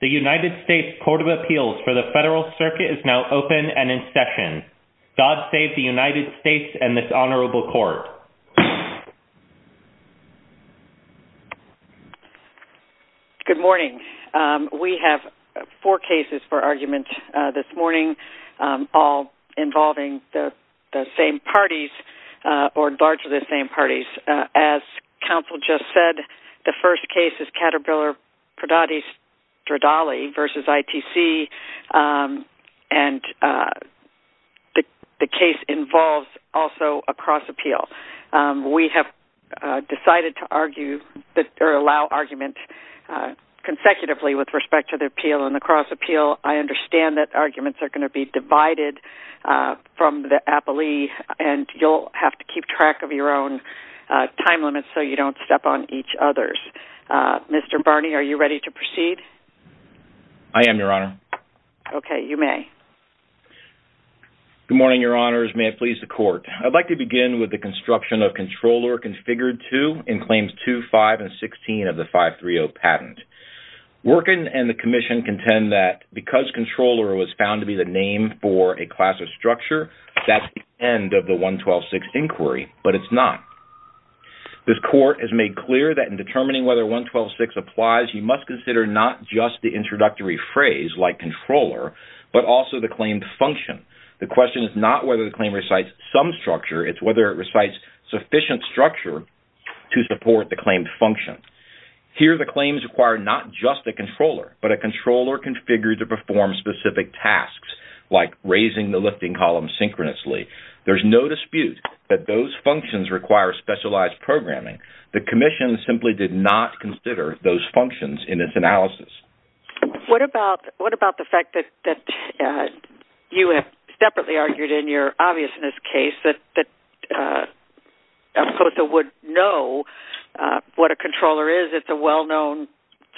The United States Court of Appeals for the Federal Circuit is now open and in session. God save the United States and this Honorable Court. Good morning. We have four cases for argument this morning, all involving the same parties, or largely the same parties. As counsel just said, the first case is Caterpillar Prodotti Stradali v. ITC and the case involves also a cross appeal. We have decided to allow argument consecutively with respect to the appeal and the cross appeal. I understand that arguments are going to be divided from the appellee and you'll have to keep track of your own time limits so you don't step on each other's. Mr. Barney, are you ready to proceed? I am, Your Honor. Okay, you may. Good morning, Your Honors. May it please the Court. I'd like to begin with the construction of Controller Configure 2 in Claims 2, 5, and 16 of the 530 patent. Worken and the Commission contend that because Controller was found to be the name for a class of structure, that's the end of the 112.6 inquiry, but it's not. This Court has made clear that in determining whether 112.6 applies, you must consider not just the introductory phrase, like Controller, but also the claimed function. The question is not whether the claim recites some structure, it's whether it recites sufficient structure to support the claimed function. Here, the claims require not just a controller, but a controller configured to perform specific tasks, like raising the lifting column synchronously. There's no dispute that those functions require specialized programming. The Commission simply did not consider those functions in its analysis. What about the fact that you have separately argued in your obviousness case that Alcosta would know what a controller is? It's a well-known,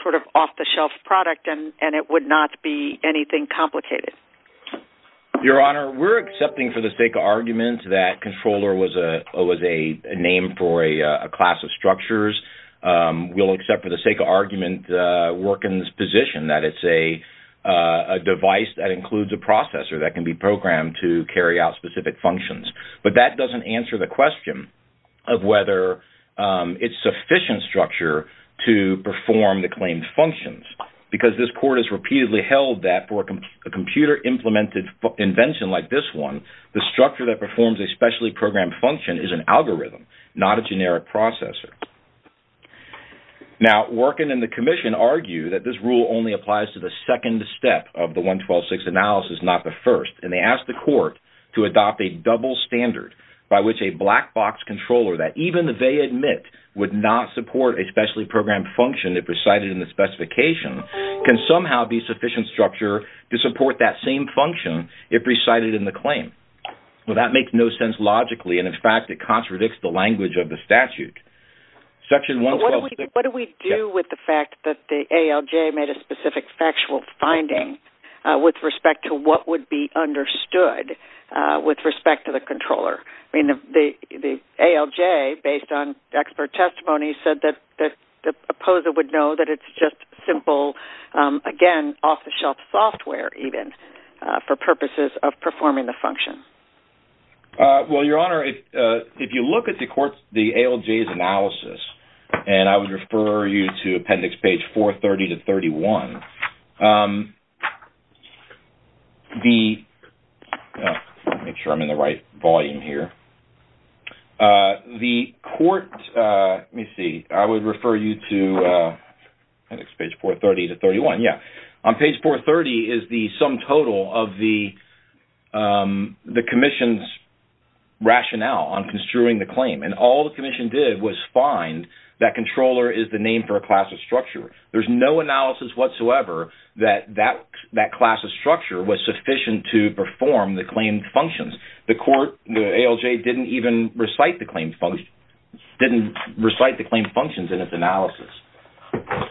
sort of off-the-shelf product, and it would not be anything complicated. Your Honor, we're accepting for the sake of argument that Controller was a name for a class of structures. We'll accept for the sake of argument Worken's position that it's a device that includes a processor that can be programmed to carry out specific functions. But that doesn't answer the question of whether it's sufficient structure to perform the claimed functions, because this Court has repeatedly held that for a computer-implemented invention like this one, the structure that performs a specially programmed function is an algorithm, not a generic processor. Now, Worken and the Commission argue that this rule only applies to the second step of the 112.6 analysis, not the first. And they ask the Court to adopt a double standard by which a black-box controller that even if they admit would not support a specially programmed function if recited in the specification can somehow be sufficient structure to support that same function if recited in the claim. Well, that makes no sense logically, and in fact, it contradicts the language of the statute. Section 112.6... What do we do with the fact that the ALJ made a specific factual finding with respect to what would be understood with respect to the controller? I mean, the ALJ, based on expert testimony, said that the opposer would know that it's just simple, again, off-the-shelf software, even, for purposes of performing the function. Well, Your Honor, if you look at the ALJ's analysis, and I would refer you to Appendix Page 430-31, the... Let me make sure I'm in the right volume here. The Court... Let me see. I would refer you to Appendix Page 430-31. Yeah. On page 430 is the sum total of the Commission's rationale on construing the claim. And all the Commission did was find that controller is the name for a class of structure. There's no analysis whatsoever that that class of structure was sufficient to perform the claimed functions. The Court, the ALJ, didn't even recite the claimed functions in its analysis.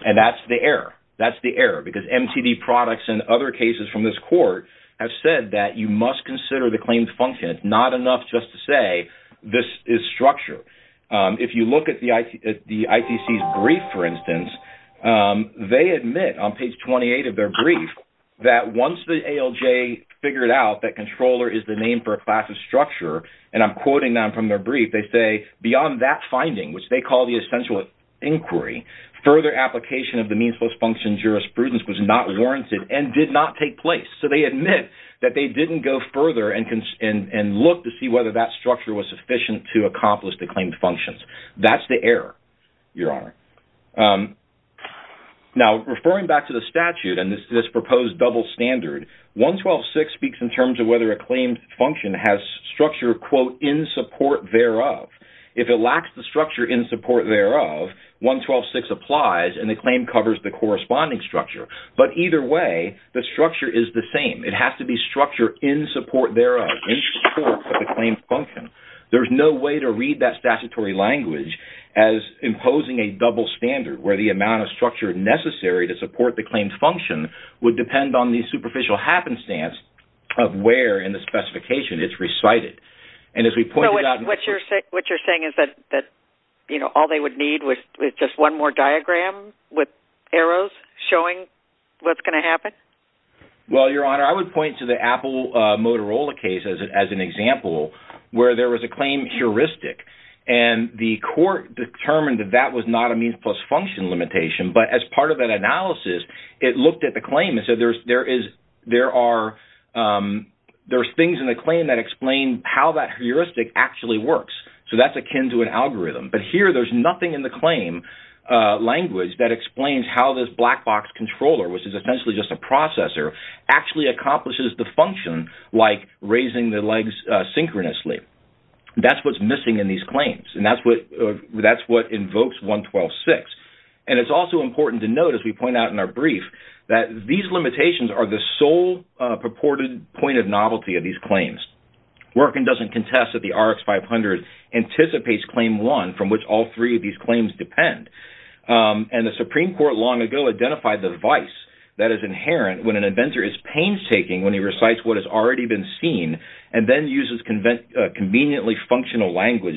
And that's the error. That's the error, because MTD products and other cases from this Court have said that you must consider the claimed function. It's not enough just to say, this is structure. If you look at the ITC's brief, for instance, they admit, on page 28 of their brief, that once the ALJ figured out that controller is the name for a class of structure, and I'm quoting them from their brief, they say, beyond that finding, which they call the essential inquiry, further application of the means-post function jurisprudence was not warranted and did not take place. So they admit that they didn't go further and look to see whether that structure was sufficient to accomplish the claimed functions. That's the error, Your Honor. Now, referring back to the statute and this proposed double standard, 112.6 speaks in terms of whether a claimed function has structure, quote, in support thereof. If it lacks the structure in support thereof, 112.6 applies and the claim covers the corresponding structure. But either way, the structure is the same. It has to be structure in support thereof, in support of the claimed function. There's no way to read that statutory language as imposing a double standard where the amount of structure necessary to support the claimed function would depend on the superficial happenstance of where in the specification it's recited. And as we pointed out... What's going to happen? Well, Your Honor, I would point to the Apple Motorola case as an example where there was a claim heuristic. And the court determined that that was not a means-plus-function limitation. But as part of that analysis, it looked at the claim and said there's things in the claim that explain how that heuristic actually works. So that's akin to an algorithm. But here there's nothing in the claim language that explains how this black box controller, which is essentially just a processor, actually accomplishes the function like raising the legs synchronously. That's what's missing in these claims. And that's what invokes 112.6. And it's also important to note, as we point out in our brief, that these limitations are the sole purported point of novelty of these claims. Workin doesn't contest that the RX-500 anticipates Claim 1, from which all three of these claims depend. And the Supreme Court long ago identified the device that is inherent when an inventor is painstaking when he recites what has already been seen and then uses conveniently functional language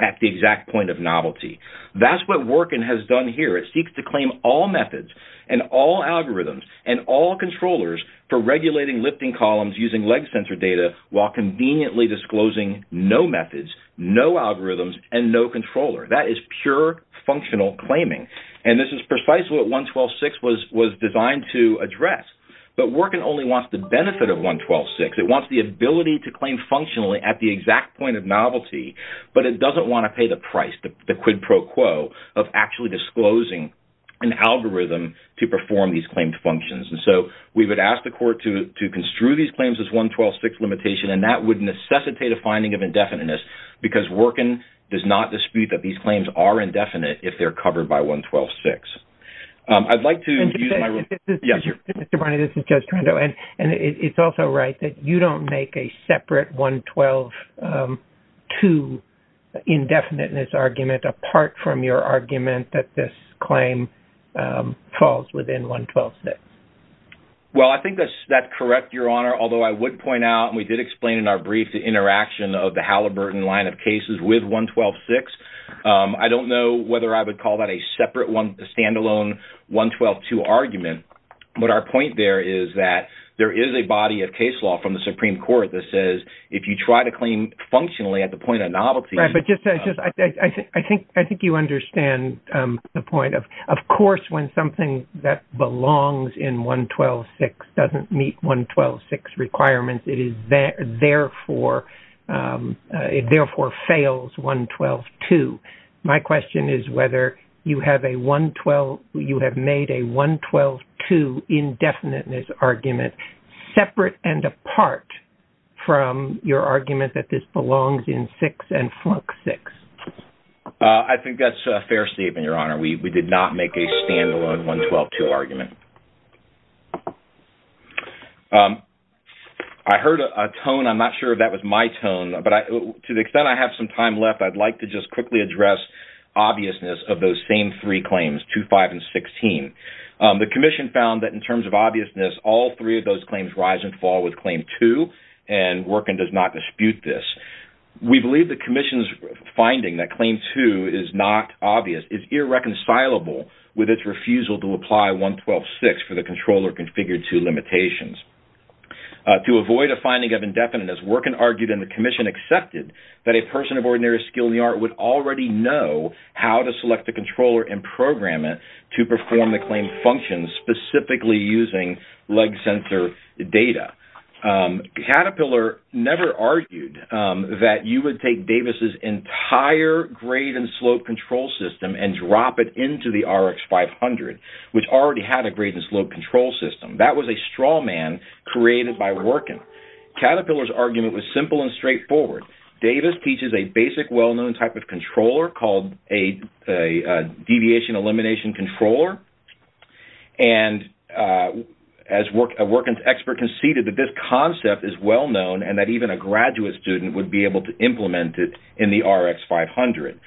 at the exact point of novelty. That's what Workin has done here. It seeks to claim all methods and all algorithms and all controllers for regulating lifting columns using leg sensor data while conveniently disclosing no methods, no algorithms, and no controller. That is pure functional claiming. And this is precisely what 112.6 was designed to address. But Workin only wants the benefit of 112.6. It wants the ability to claim functionally at the exact point of novelty, but it doesn't want to pay the price, the quid pro quo, of actually disclosing an algorithm to perform these claimed functions. And so we would ask the court to construe these claims as 112.6 limitation, and that would necessitate a finding of indefiniteness because Workin does not dispute that these claims are indefinite if they're covered by 112.6. Mr. Barney, this is Judge Toronto, and it's also right that you don't make a separate 112.2 indefiniteness argument apart from your argument that this claim falls within 112.6. Well, I think that's correct, Your Honor, although I would point out, and we did explain in our brief the interaction of the Halliburton line of cases with 112.6. I don't know whether I would call that a separate one, a stand-alone 112.2 argument, but our point there is that there is a body of case law from the Supreme Court that says if you try to claim functionally at the point of novelty... Right, but I think you understand the point. Of course, when something that belongs in 112.6 doesn't meet 112.6 requirements, it therefore fails 112.2. My question is whether you have made a 112.2 indefiniteness argument separate and apart from your argument that this belongs in 6 and flunk 6. I think that's a fair statement, Your Honor. We did not make a stand-alone 112.2 argument. I heard a tone. I'm not sure if that was my tone, but to the extent I have some time left, I'd like to just quickly address obviousness of those same three claims, 2, 5, and 16. The Commission found that in terms of obviousness, all three of those claims rise and fall with Claim 2, and Workin does not dispute this. We believe the Commission's finding that Claim 2 is not obvious is irreconcilable with its refusal to apply 112.6. For the controller configured to limitations. To avoid a finding of indefiniteness, Workin argued, and the Commission accepted, that a person of ordinary skill in the art would already know how to select a controller and program it to perform the claimed functions, specifically using leg sensor data. Caterpillar never argued that you would take Davis's entire grade and slope control system and drop it into the RX-500, which already had a grade and slope control system. That was a straw man created by Workin. Caterpillar's argument was simple and straightforward. Davis teaches a basic well-known type of controller called a deviation elimination controller, and as a Workin expert conceded that this concept is well-known, and that even a graduate student would be able to implement it in the RX-500.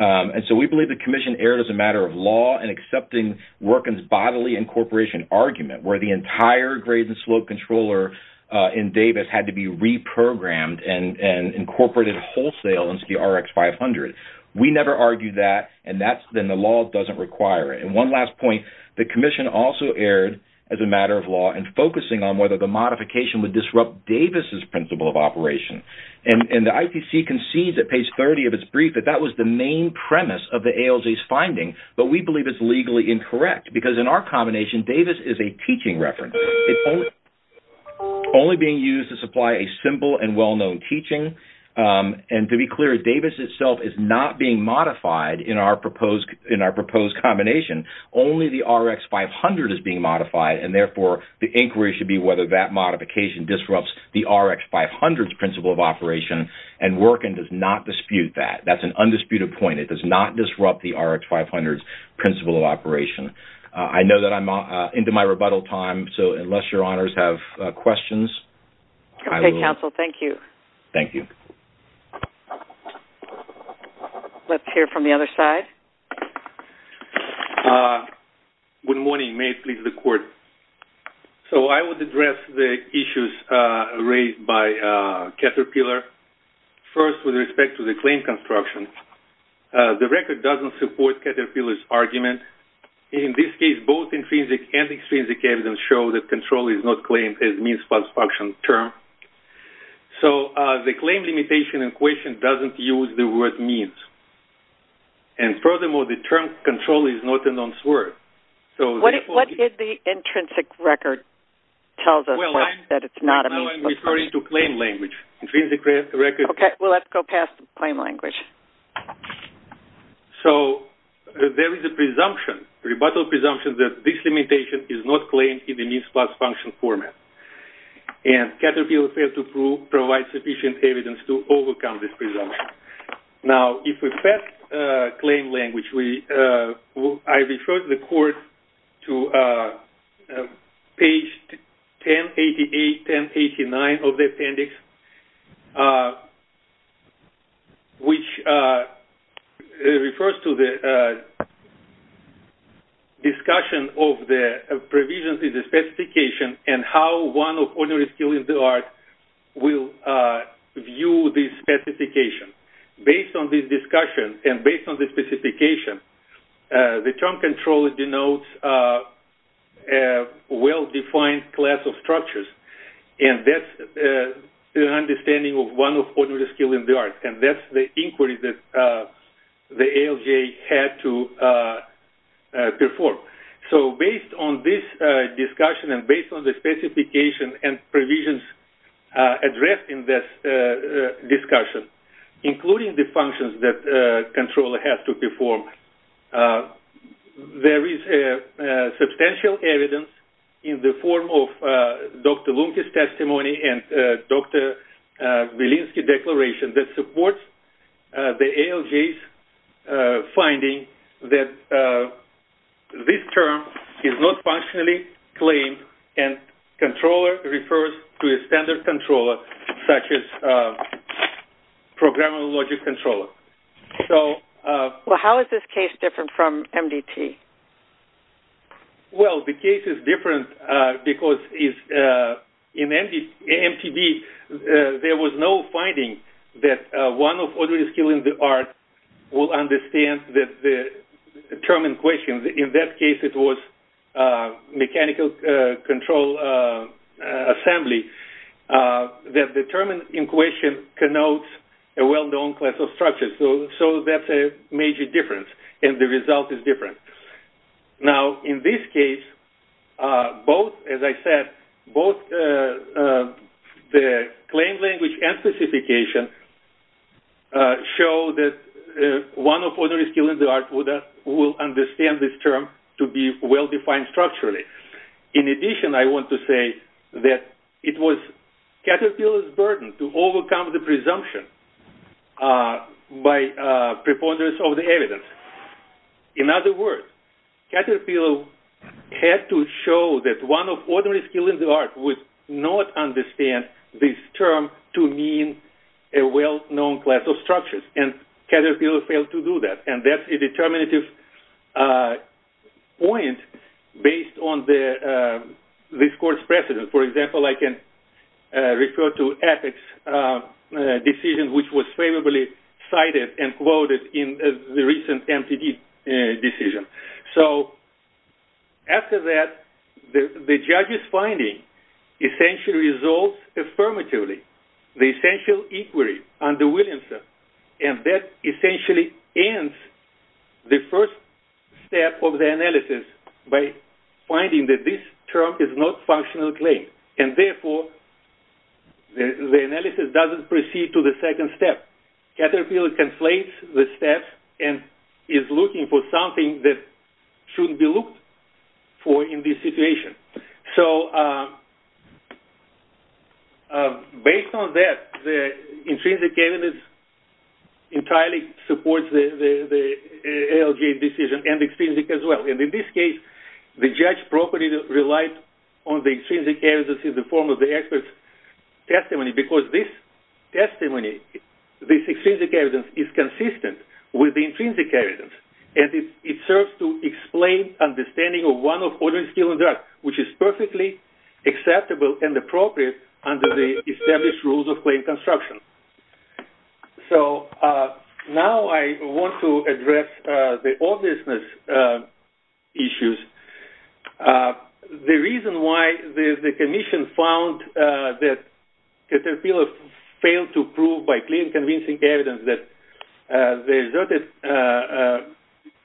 And so we believe the Commission erred as a matter of law in accepting Workin's bodily incorporation argument, where the entire grade and slope controller in Davis had to be reprogrammed and incorporated wholesale into the RX-500. We never argued that, and the law doesn't require it. And one last point, the Commission also erred as a matter of law in focusing on whether the modification would disrupt Davis's principle of operation. And the ITC concedes at page 30 of its brief that that was the main premise of the ALJ's finding, but we believe it's legally incorrect because in our combination, Davis is a teaching reference. It's only being used to supply a simple and well-known teaching, and to be clear, Davis itself is not being modified in our proposed combination. Only the RX-500 is being modified, and therefore the inquiry should be whether that modification disrupts the RX-500's principle of operation, and Workin does not dispute that. That's an undisputed point. It does not disrupt the RX-500's principle of operation. I know that I'm into my rebuttal time, so unless your honors have questions, I will. Okay, counsel, thank you. Thank you. Let's hear from the other side. Good morning. May it please the Court. So I would address the issues raised by Caterpillar. First, with respect to the claim construction, the record doesn't support Caterpillar's argument. In this case, both intrinsic and extrinsic evidence show that control is not claimed as a means plus function term. So the claim limitation in question doesn't use the word means. And furthermore, the term control is not a non-swerve. What did the intrinsic record tell us that it's not a means plus function? Well, I'm referring to claim language. Okay, well, let's go past claim language. So there is a presumption, rebuttal presumption, that this limitation is not claimed in the means plus function format. And Caterpillar failed to provide sufficient evidence to overcome this presumption. Now, if we pass claim language, I refer the Court to page 1088-1089 of the appendix, which refers to the discussion of the provisions in the specification and how one of ordinary skill in the art will view this specification. Based on this discussion and based on this specification, the term control denotes a well-defined class of structures. And that's an understanding of one of ordinary skill in the art. And that's the inquiry that the ALGA had to perform. So based on this discussion and based on the specification and provisions addressed in this discussion, including the functions that the controller has to perform, there is substantial evidence in the form of Dr. Lunke's testimony and Dr. Vilinsky's declaration that supports the ALGA's finding that this term is not functionally claimed and controller refers to a standard controller, such as a programmable logic controller. Well, how is this case different from MDT? Well, the case is different because in MDT, there was no finding that one of ordinary skill in the art will understand the term in question. In that case, it was mechanical control assembly that determined in question connotes a well-known class of structures. So that's a major difference, and the result is different. Now, in this case, as I said, both the claim language and specification show that one of ordinary skill in the art will understand this term to be well-defined structurally. In addition, I want to say that it was Caterpillar's burden to overcome the presumption by preponderance of the evidence. In other words, Caterpillar had to show that one of ordinary skill in the art would not understand this term to mean a well-known class of structures, and Caterpillar failed to do that, and that's a determinative point based on this court's precedent. For example, I can refer to Epic's decision, which was favorably cited and quoted in the recent MTD decision. After that, the judge's finding essentially resolves affirmatively the essential inquiry under Williamson, and that essentially ends the first step of the analysis by finding that this term is not a functional claim. Therefore, the analysis doesn't proceed to the second step. Caterpillar conflates the steps and is looking for something that shouldn't be looked for in this situation. Based on that, the intrinsic evidence entirely supports the ALJ decision and extrinsic as well. In this case, the judge's property relied on the extrinsic evidence in the form of the expert's testimony because this testimony, this extrinsic evidence, is consistent with the intrinsic evidence, and it serves to explain understanding of one of ordinary skill in the art, which is perfectly acceptable and appropriate under the established rules of claim construction. Now I want to address the obviousness issues. The reason why the commission found that Caterpillar failed to prove by claim-convincing evidence that the asserted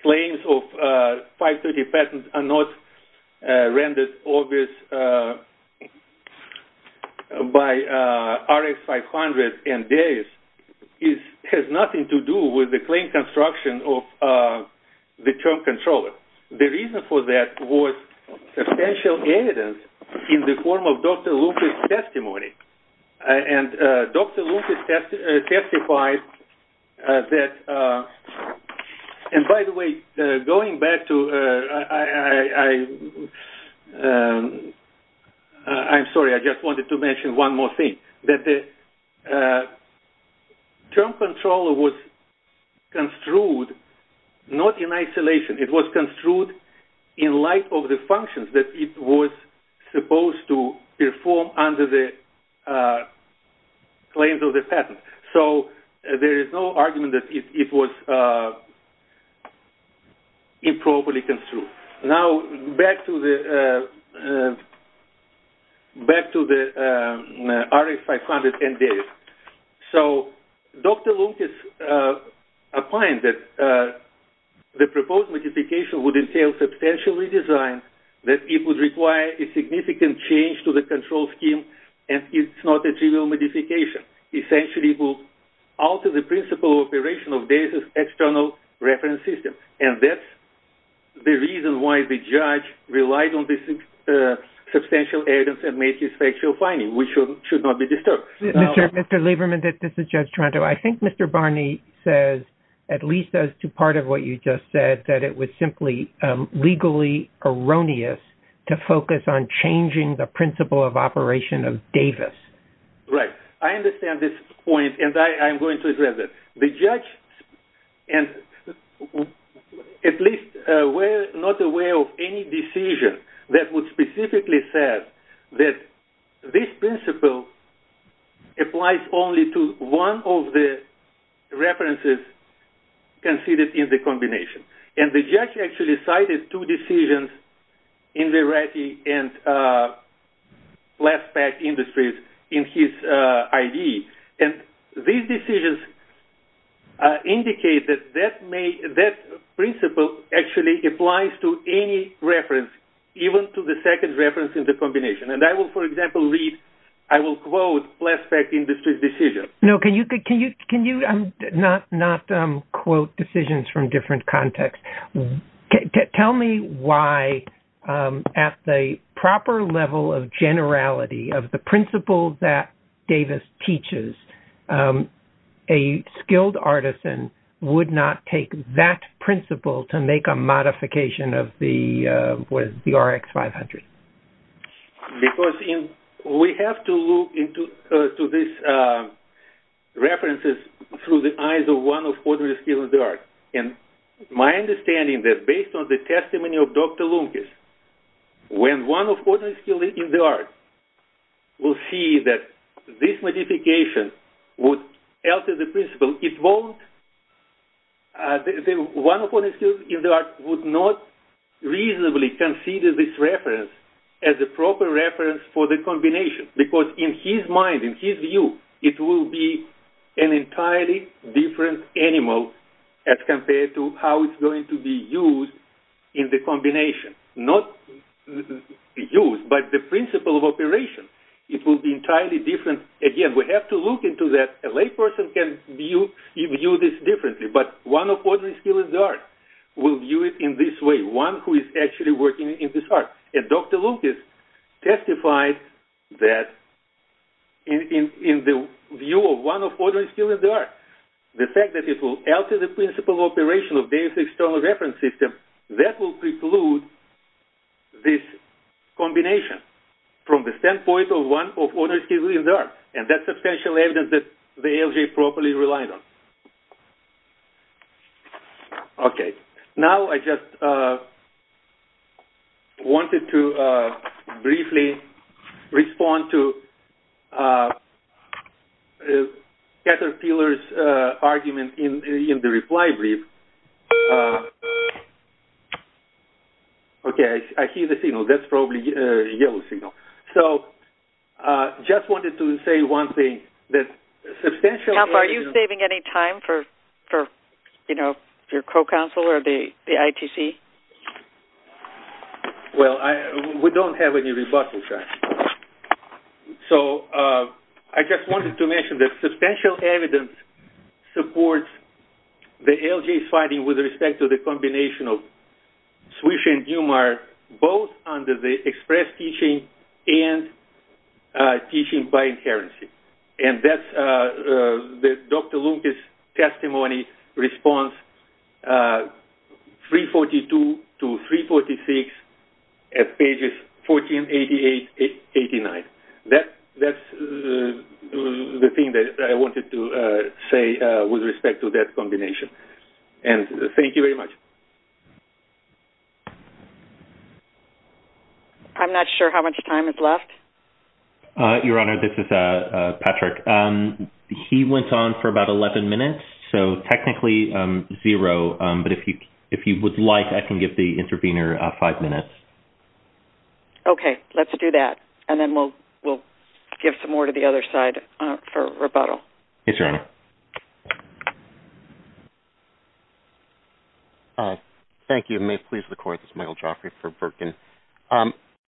claims of 530 patents are not rendered obvious by RX 500 and Darius has nothing to do with the claim construction of the term controller. The reason for that was substantial evidence in the form of Dr. Lucas' testimony. Dr. Lucas testified that... And by the way, going back to... I'm sorry, I just wanted to mention one more thing. ...that the term controller was construed not in isolation. It was construed in light of the functions that it was supposed to perform under the claims of the patent. So there is no argument that it was improperly construed. Now, back to the RX 500 and Darius. So Dr. Lucas opined that the proposed modification would entail substantial redesign, that it would require a significant change to the control scheme, and it's not a trivial modification. Essentially, it will alter the principle operation of Darius' external reference system. And that's the reason why the judge relied on this substantial evidence and made this factual finding, which should not be disturbed. Mr. Lieberman, this is Judge Toronto. I think Mr. Barney says, at least as to part of what you just said, that it was simply legally erroneous to focus on changing the principle of operation of Davis. Right. I understand this point, and I'm going to address it. The judge, at least, was not aware of any decision that would specifically say that this principle applies only to one of the references considered in the combination. And the judge actually cited two decisions in the ratty and left-back industries in his I.D. And these decisions indicate that that principle actually applies to any reference, even to the second reference in the combination. And I will, for example, read – I will quote left-back industries' decision. No, can you not quote decisions from different contexts? Tell me why, at the proper level of generality of the principle that Davis teaches, a skilled artisan would not take that principle to make a modification of the RX-500. Because we have to look into these references through the eyes of one of ordinary skilled artists. And my understanding is that, based on the testimony of Dr. Lunkes, when one of ordinary skilled artists will see that this modification would alter the principle, one of ordinary skilled artists would not reasonably consider this reference as a proper reference for the combination. Because in his mind, in his view, it will be an entirely different animal as compared to how it's going to be used in the combination. Not used, but the principle of operation. It will be entirely different. Again, we have to look into that. A layperson can view this differently. But one of ordinary skilled artists will view it in this way. One who is actually working in this art. And Dr. Lunkes testified that, in the view of one of ordinary skilled artists, the fact that it will alter the principle of operation of Davis's external reference system, that will preclude this combination from the standpoint of one of ordinary skilled artists. And that's substantial evidence that the ALJ properly relied on. Okay. Now I just wanted to briefly respond to Heather Peeler's argument in the reply brief. Okay. I hear the signal. That's probably a yellow signal. So, just wanted to say one thing. Are you saving any time for your co-counsel or the ITC? Well, we don't have any rebuttals yet. So, I just wanted to mention that substantial evidence supports the ALJ's finding with respect to the combination of Swisher and Dumar both under the express teaching and teaching by inherency. And that's Dr. Lunkes' testimony response 342 to 346 at pages 1488-89. That's the thing that I wanted to say with respect to that combination. And thank you very much. I'm not sure how much time is left. Your Honor, this is Patrick. He went on for about 11 minutes. So, technically, zero. But if you would like, I can give the intervener five minutes. Okay. Let's do that. And then we'll give some more to the other side for rebuttal. Yes, Your Honor. Hi. Thank you. And may it please the Court, this is Michael Joffrey for Birkin.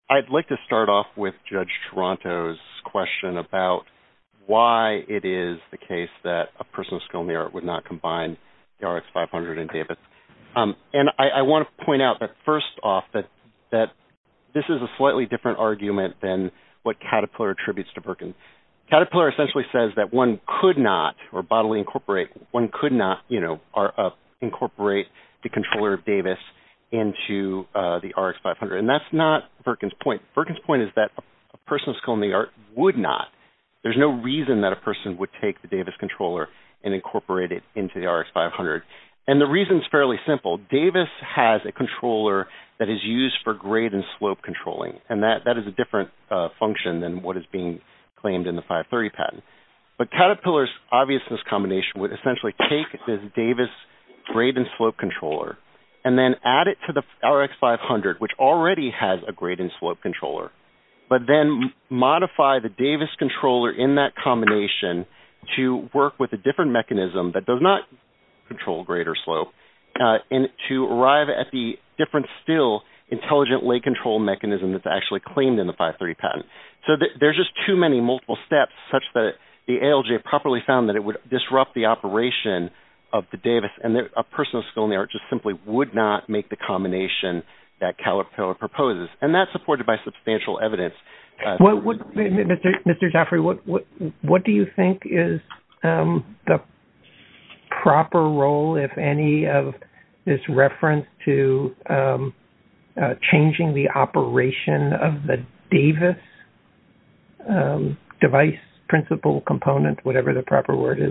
I'd like to start off with Judge Toronto's question about why it is the case that a person of skill and merit would not combine the RX-500 and David's. And I want to point out that first off that this is a slightly different argument than what Caterpillar attributes to Birkin. Caterpillar essentially says that one could not, or bodily incorporate, one could not incorporate the controller of Davis into the RX-500. And that's not Birkin's point. Birkin's point is that a person of skill and merit would not. There's no reason that a person would take the Davis controller and incorporate it into the RX-500. And the reason is fairly simple. Davis has a controller that is used for grade and slope controlling. And that is a different function than what is being claimed in the 530 patent. But Caterpillar's obviousness combination would essentially take this Davis grade and slope controller and then add it to the RX-500, which already has a grade and slope controller, but then modify the Davis controller in that combination to work with a different mechanism that does not control grade or slope, and to arrive at the different still intelligently controlled mechanism that's actually claimed in the 530 patent. So there's just too many multiple steps such that the ALJ properly found that it would disrupt the operation of the Davis, and a person of skill and merit just simply would not make the combination that Caterpillar proposes. And that's supported by substantial evidence. Mr. Jaffray, what do you think is the proper role, if any, of this reference to changing the operation of the Davis device principle component, as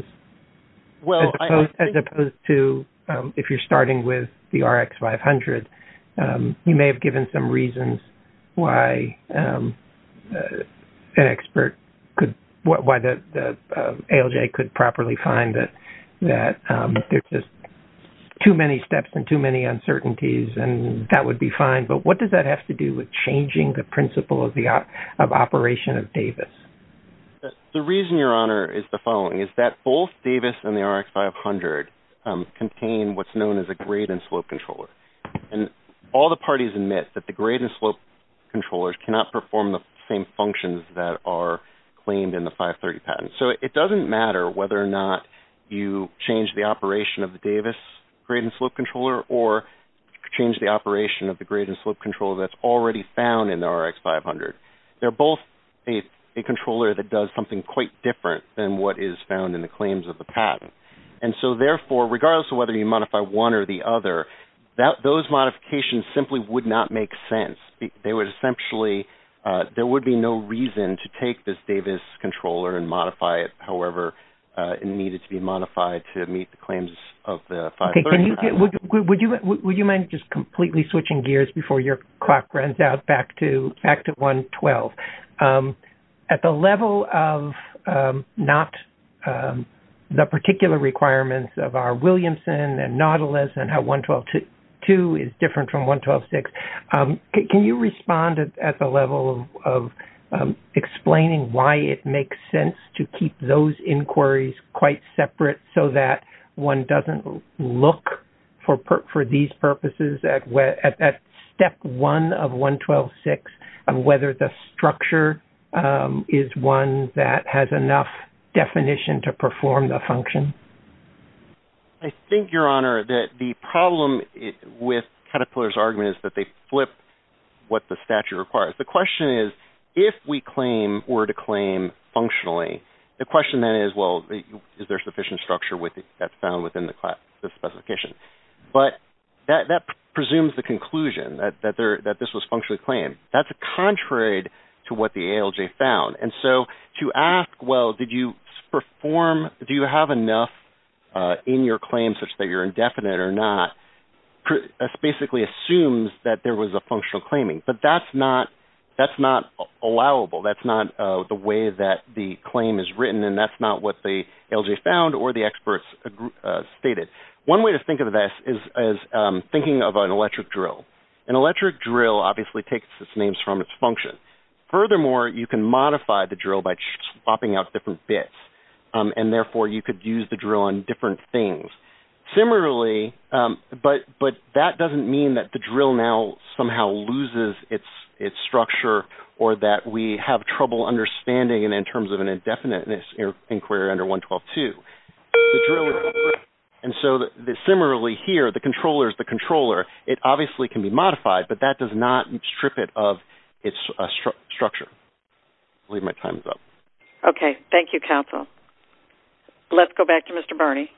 opposed to, if you're starting with the RX-500, you may have given some reasons why the ALJ could properly find that there's just too many steps and too many uncertainties, and that would be fine. But what does that have to do with changing the principle of operation of Davis? The reason, Your Honor, is the following. It's that both Davis and the RX-500 contain what's known as a grade and slope controller. And all the parties admit that the grade and slope controllers cannot perform the same functions that are claimed in the 530 patent. So it doesn't matter whether or not you change the operation of the Davis grade and slope controller, or change the operation of the grade and slope controller that's already found in the RX-500. They're both a controller that does something quite different than what is found in the claims of the patent. And so, therefore, regardless of whether you modify one or the other, those modifications simply would not make sense. There would be no reason to take this Davis controller and modify it however it needed to be modified to meet the claims of the 530 patent. Would you mind just completely switching gears before your clock runs out back to 1.12? At the level of not the particular requirements of our Williamson and Nautilus and how 1.12.2 is different from 1.12.6, can you respond at the level of explaining why it makes sense to keep those inquiries quite separate so that one doesn't look for these purposes at step one of 1.12.6, and whether the structure is one that has enough definition to perform the function? I think, Your Honor, that the problem with Caterpillar's argument is that they flip what the statute requires. The question is, if we claim or to claim functionally, the question then is, well, is there sufficient structure that's found within the classification? But that presumes the conclusion that this was functionally claimed. That's contrary to what the ALJ found. And so to ask, well, do you have enough in your claim such that you're indefinite or not, basically assumes that there was a functional claiming. But that's not allowable. That's not the way that the claim is written, and that's not what the ALJ found or the experts stated. One way to think of this is thinking of an electric drill. An electric drill obviously takes its name from its function. Furthermore, you can modify the drill by swapping out different bits, and therefore you could use the drill on different things. Similarly, but that doesn't mean that the drill now somehow loses its structure or that we have trouble understanding it in terms of an indefiniteness inquiry under 1.12.2. And so similarly here, the controller is the controller. It obviously can be modified, but that does not strip it of its structure. I believe my time is up. Okay. Thank you, counsel. Let's go back to Mr. Barney.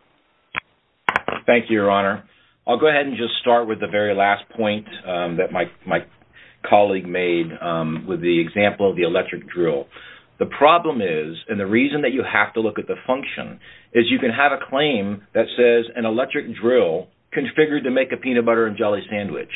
Thank you, Your Honor. I'll go ahead and just start with the very last point that my colleague made with the example of the electric drill. The problem is, and the reason that you have to look at the function, is you can have a claim that says an electric drill configured to make a peanut butter and jelly sandwich.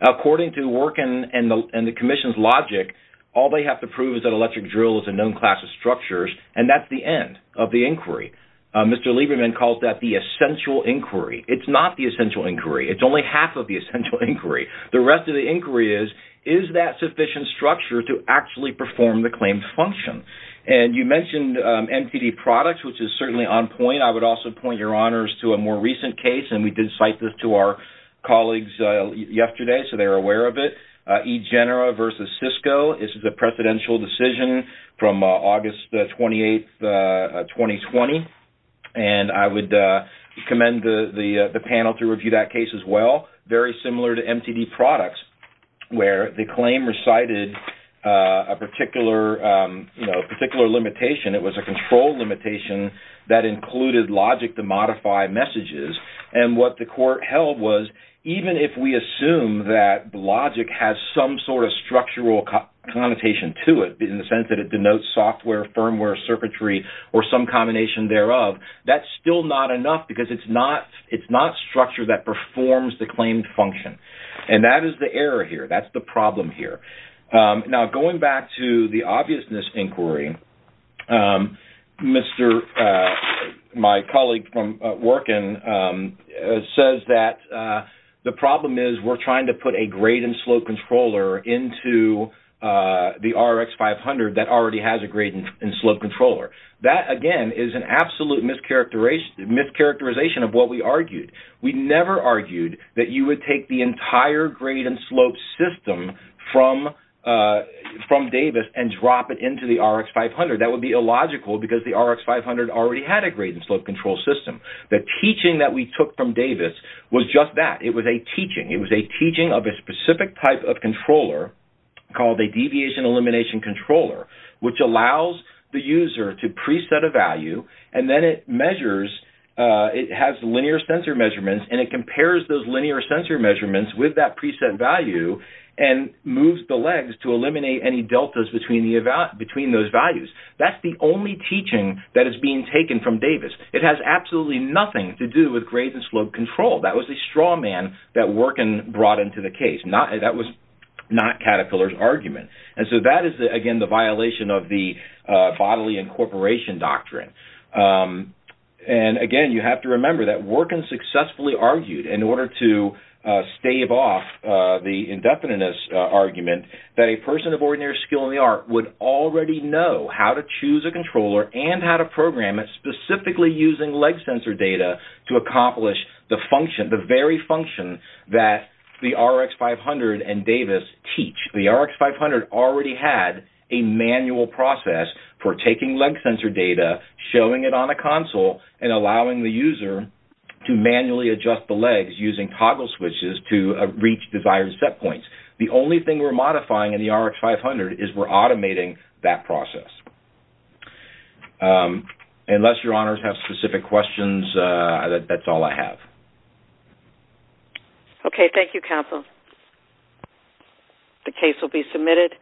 According to the work and the Commission's logic, all they have to prove is that an electric drill is a known class of structures, and that's the end of the inquiry. Mr. Lieberman calls that the essential inquiry. It's not the essential inquiry. It's only half of the essential inquiry. The rest of the inquiry is, is that sufficient structure to actually perform the claimed function? And you mentioned MTD products, which is certainly on point. I would also point, Your Honors, to a more recent case, and we did cite this to our colleagues yesterday, so they were aware of it, eGenera versus Cisco. This is a presidential decision from August 28, 2020. And I would commend the panel to review that case as well. Very similar to MTD products, where the claim recited a particular, you know, particular limitation. It was a control limitation that included logic to modify messages. And what the court held was, even if we assume that logic has some sort of structural connotation to it, in the sense that it denotes software, firmware, circuitry, or some combination thereof, that's still not enough because it's not structure that performs the claimed function. And that is the error here. That's the problem here. Now, going back to the obviousness inquiry, my colleague from Workin says that the problem is, we're trying to put a grade and slope controller into the RX500 that already has a grade and slope controller. That, again, is an absolute mischaracterization of what we argued. We never argued that you would take the entire grade and slope system from Davis and drop it into the RX500. That would be illogical because the RX500 already had a grade and slope control system. The teaching that we took from Davis was just that. It was a teaching. It was a teaching of a specific type of controller called a deviation elimination controller, which allows the user to preset a value, and then it has linear sensor measurements, and it compares those linear sensor measurements with that preset value and moves the legs to eliminate any deltas between those values. That's the only teaching that is being taken from Davis. It has absolutely nothing to do with grade and slope control. That was a straw man that Workin brought into the case. That was not Caterpillar's argument. That is, again, the violation of the bodily incorporation doctrine. Again, you have to remember that Workin successfully argued in order to stave off the indefiniteness argument that a person of ordinary skill in the art would already know how to choose a controller and how to program it specifically using leg sensor data to accomplish the function, the very function that the RX500 and Davis teach. The RX500 already had a manual process for taking leg sensor data, showing it on a console, and allowing the user to manually adjust the legs using toggle switches to reach desired set points. The only thing we're modifying in the RX500 is we're automating that process. Unless your honors have specific questions, that's all I have. Okay, thank you, counsel. The case will be submitted.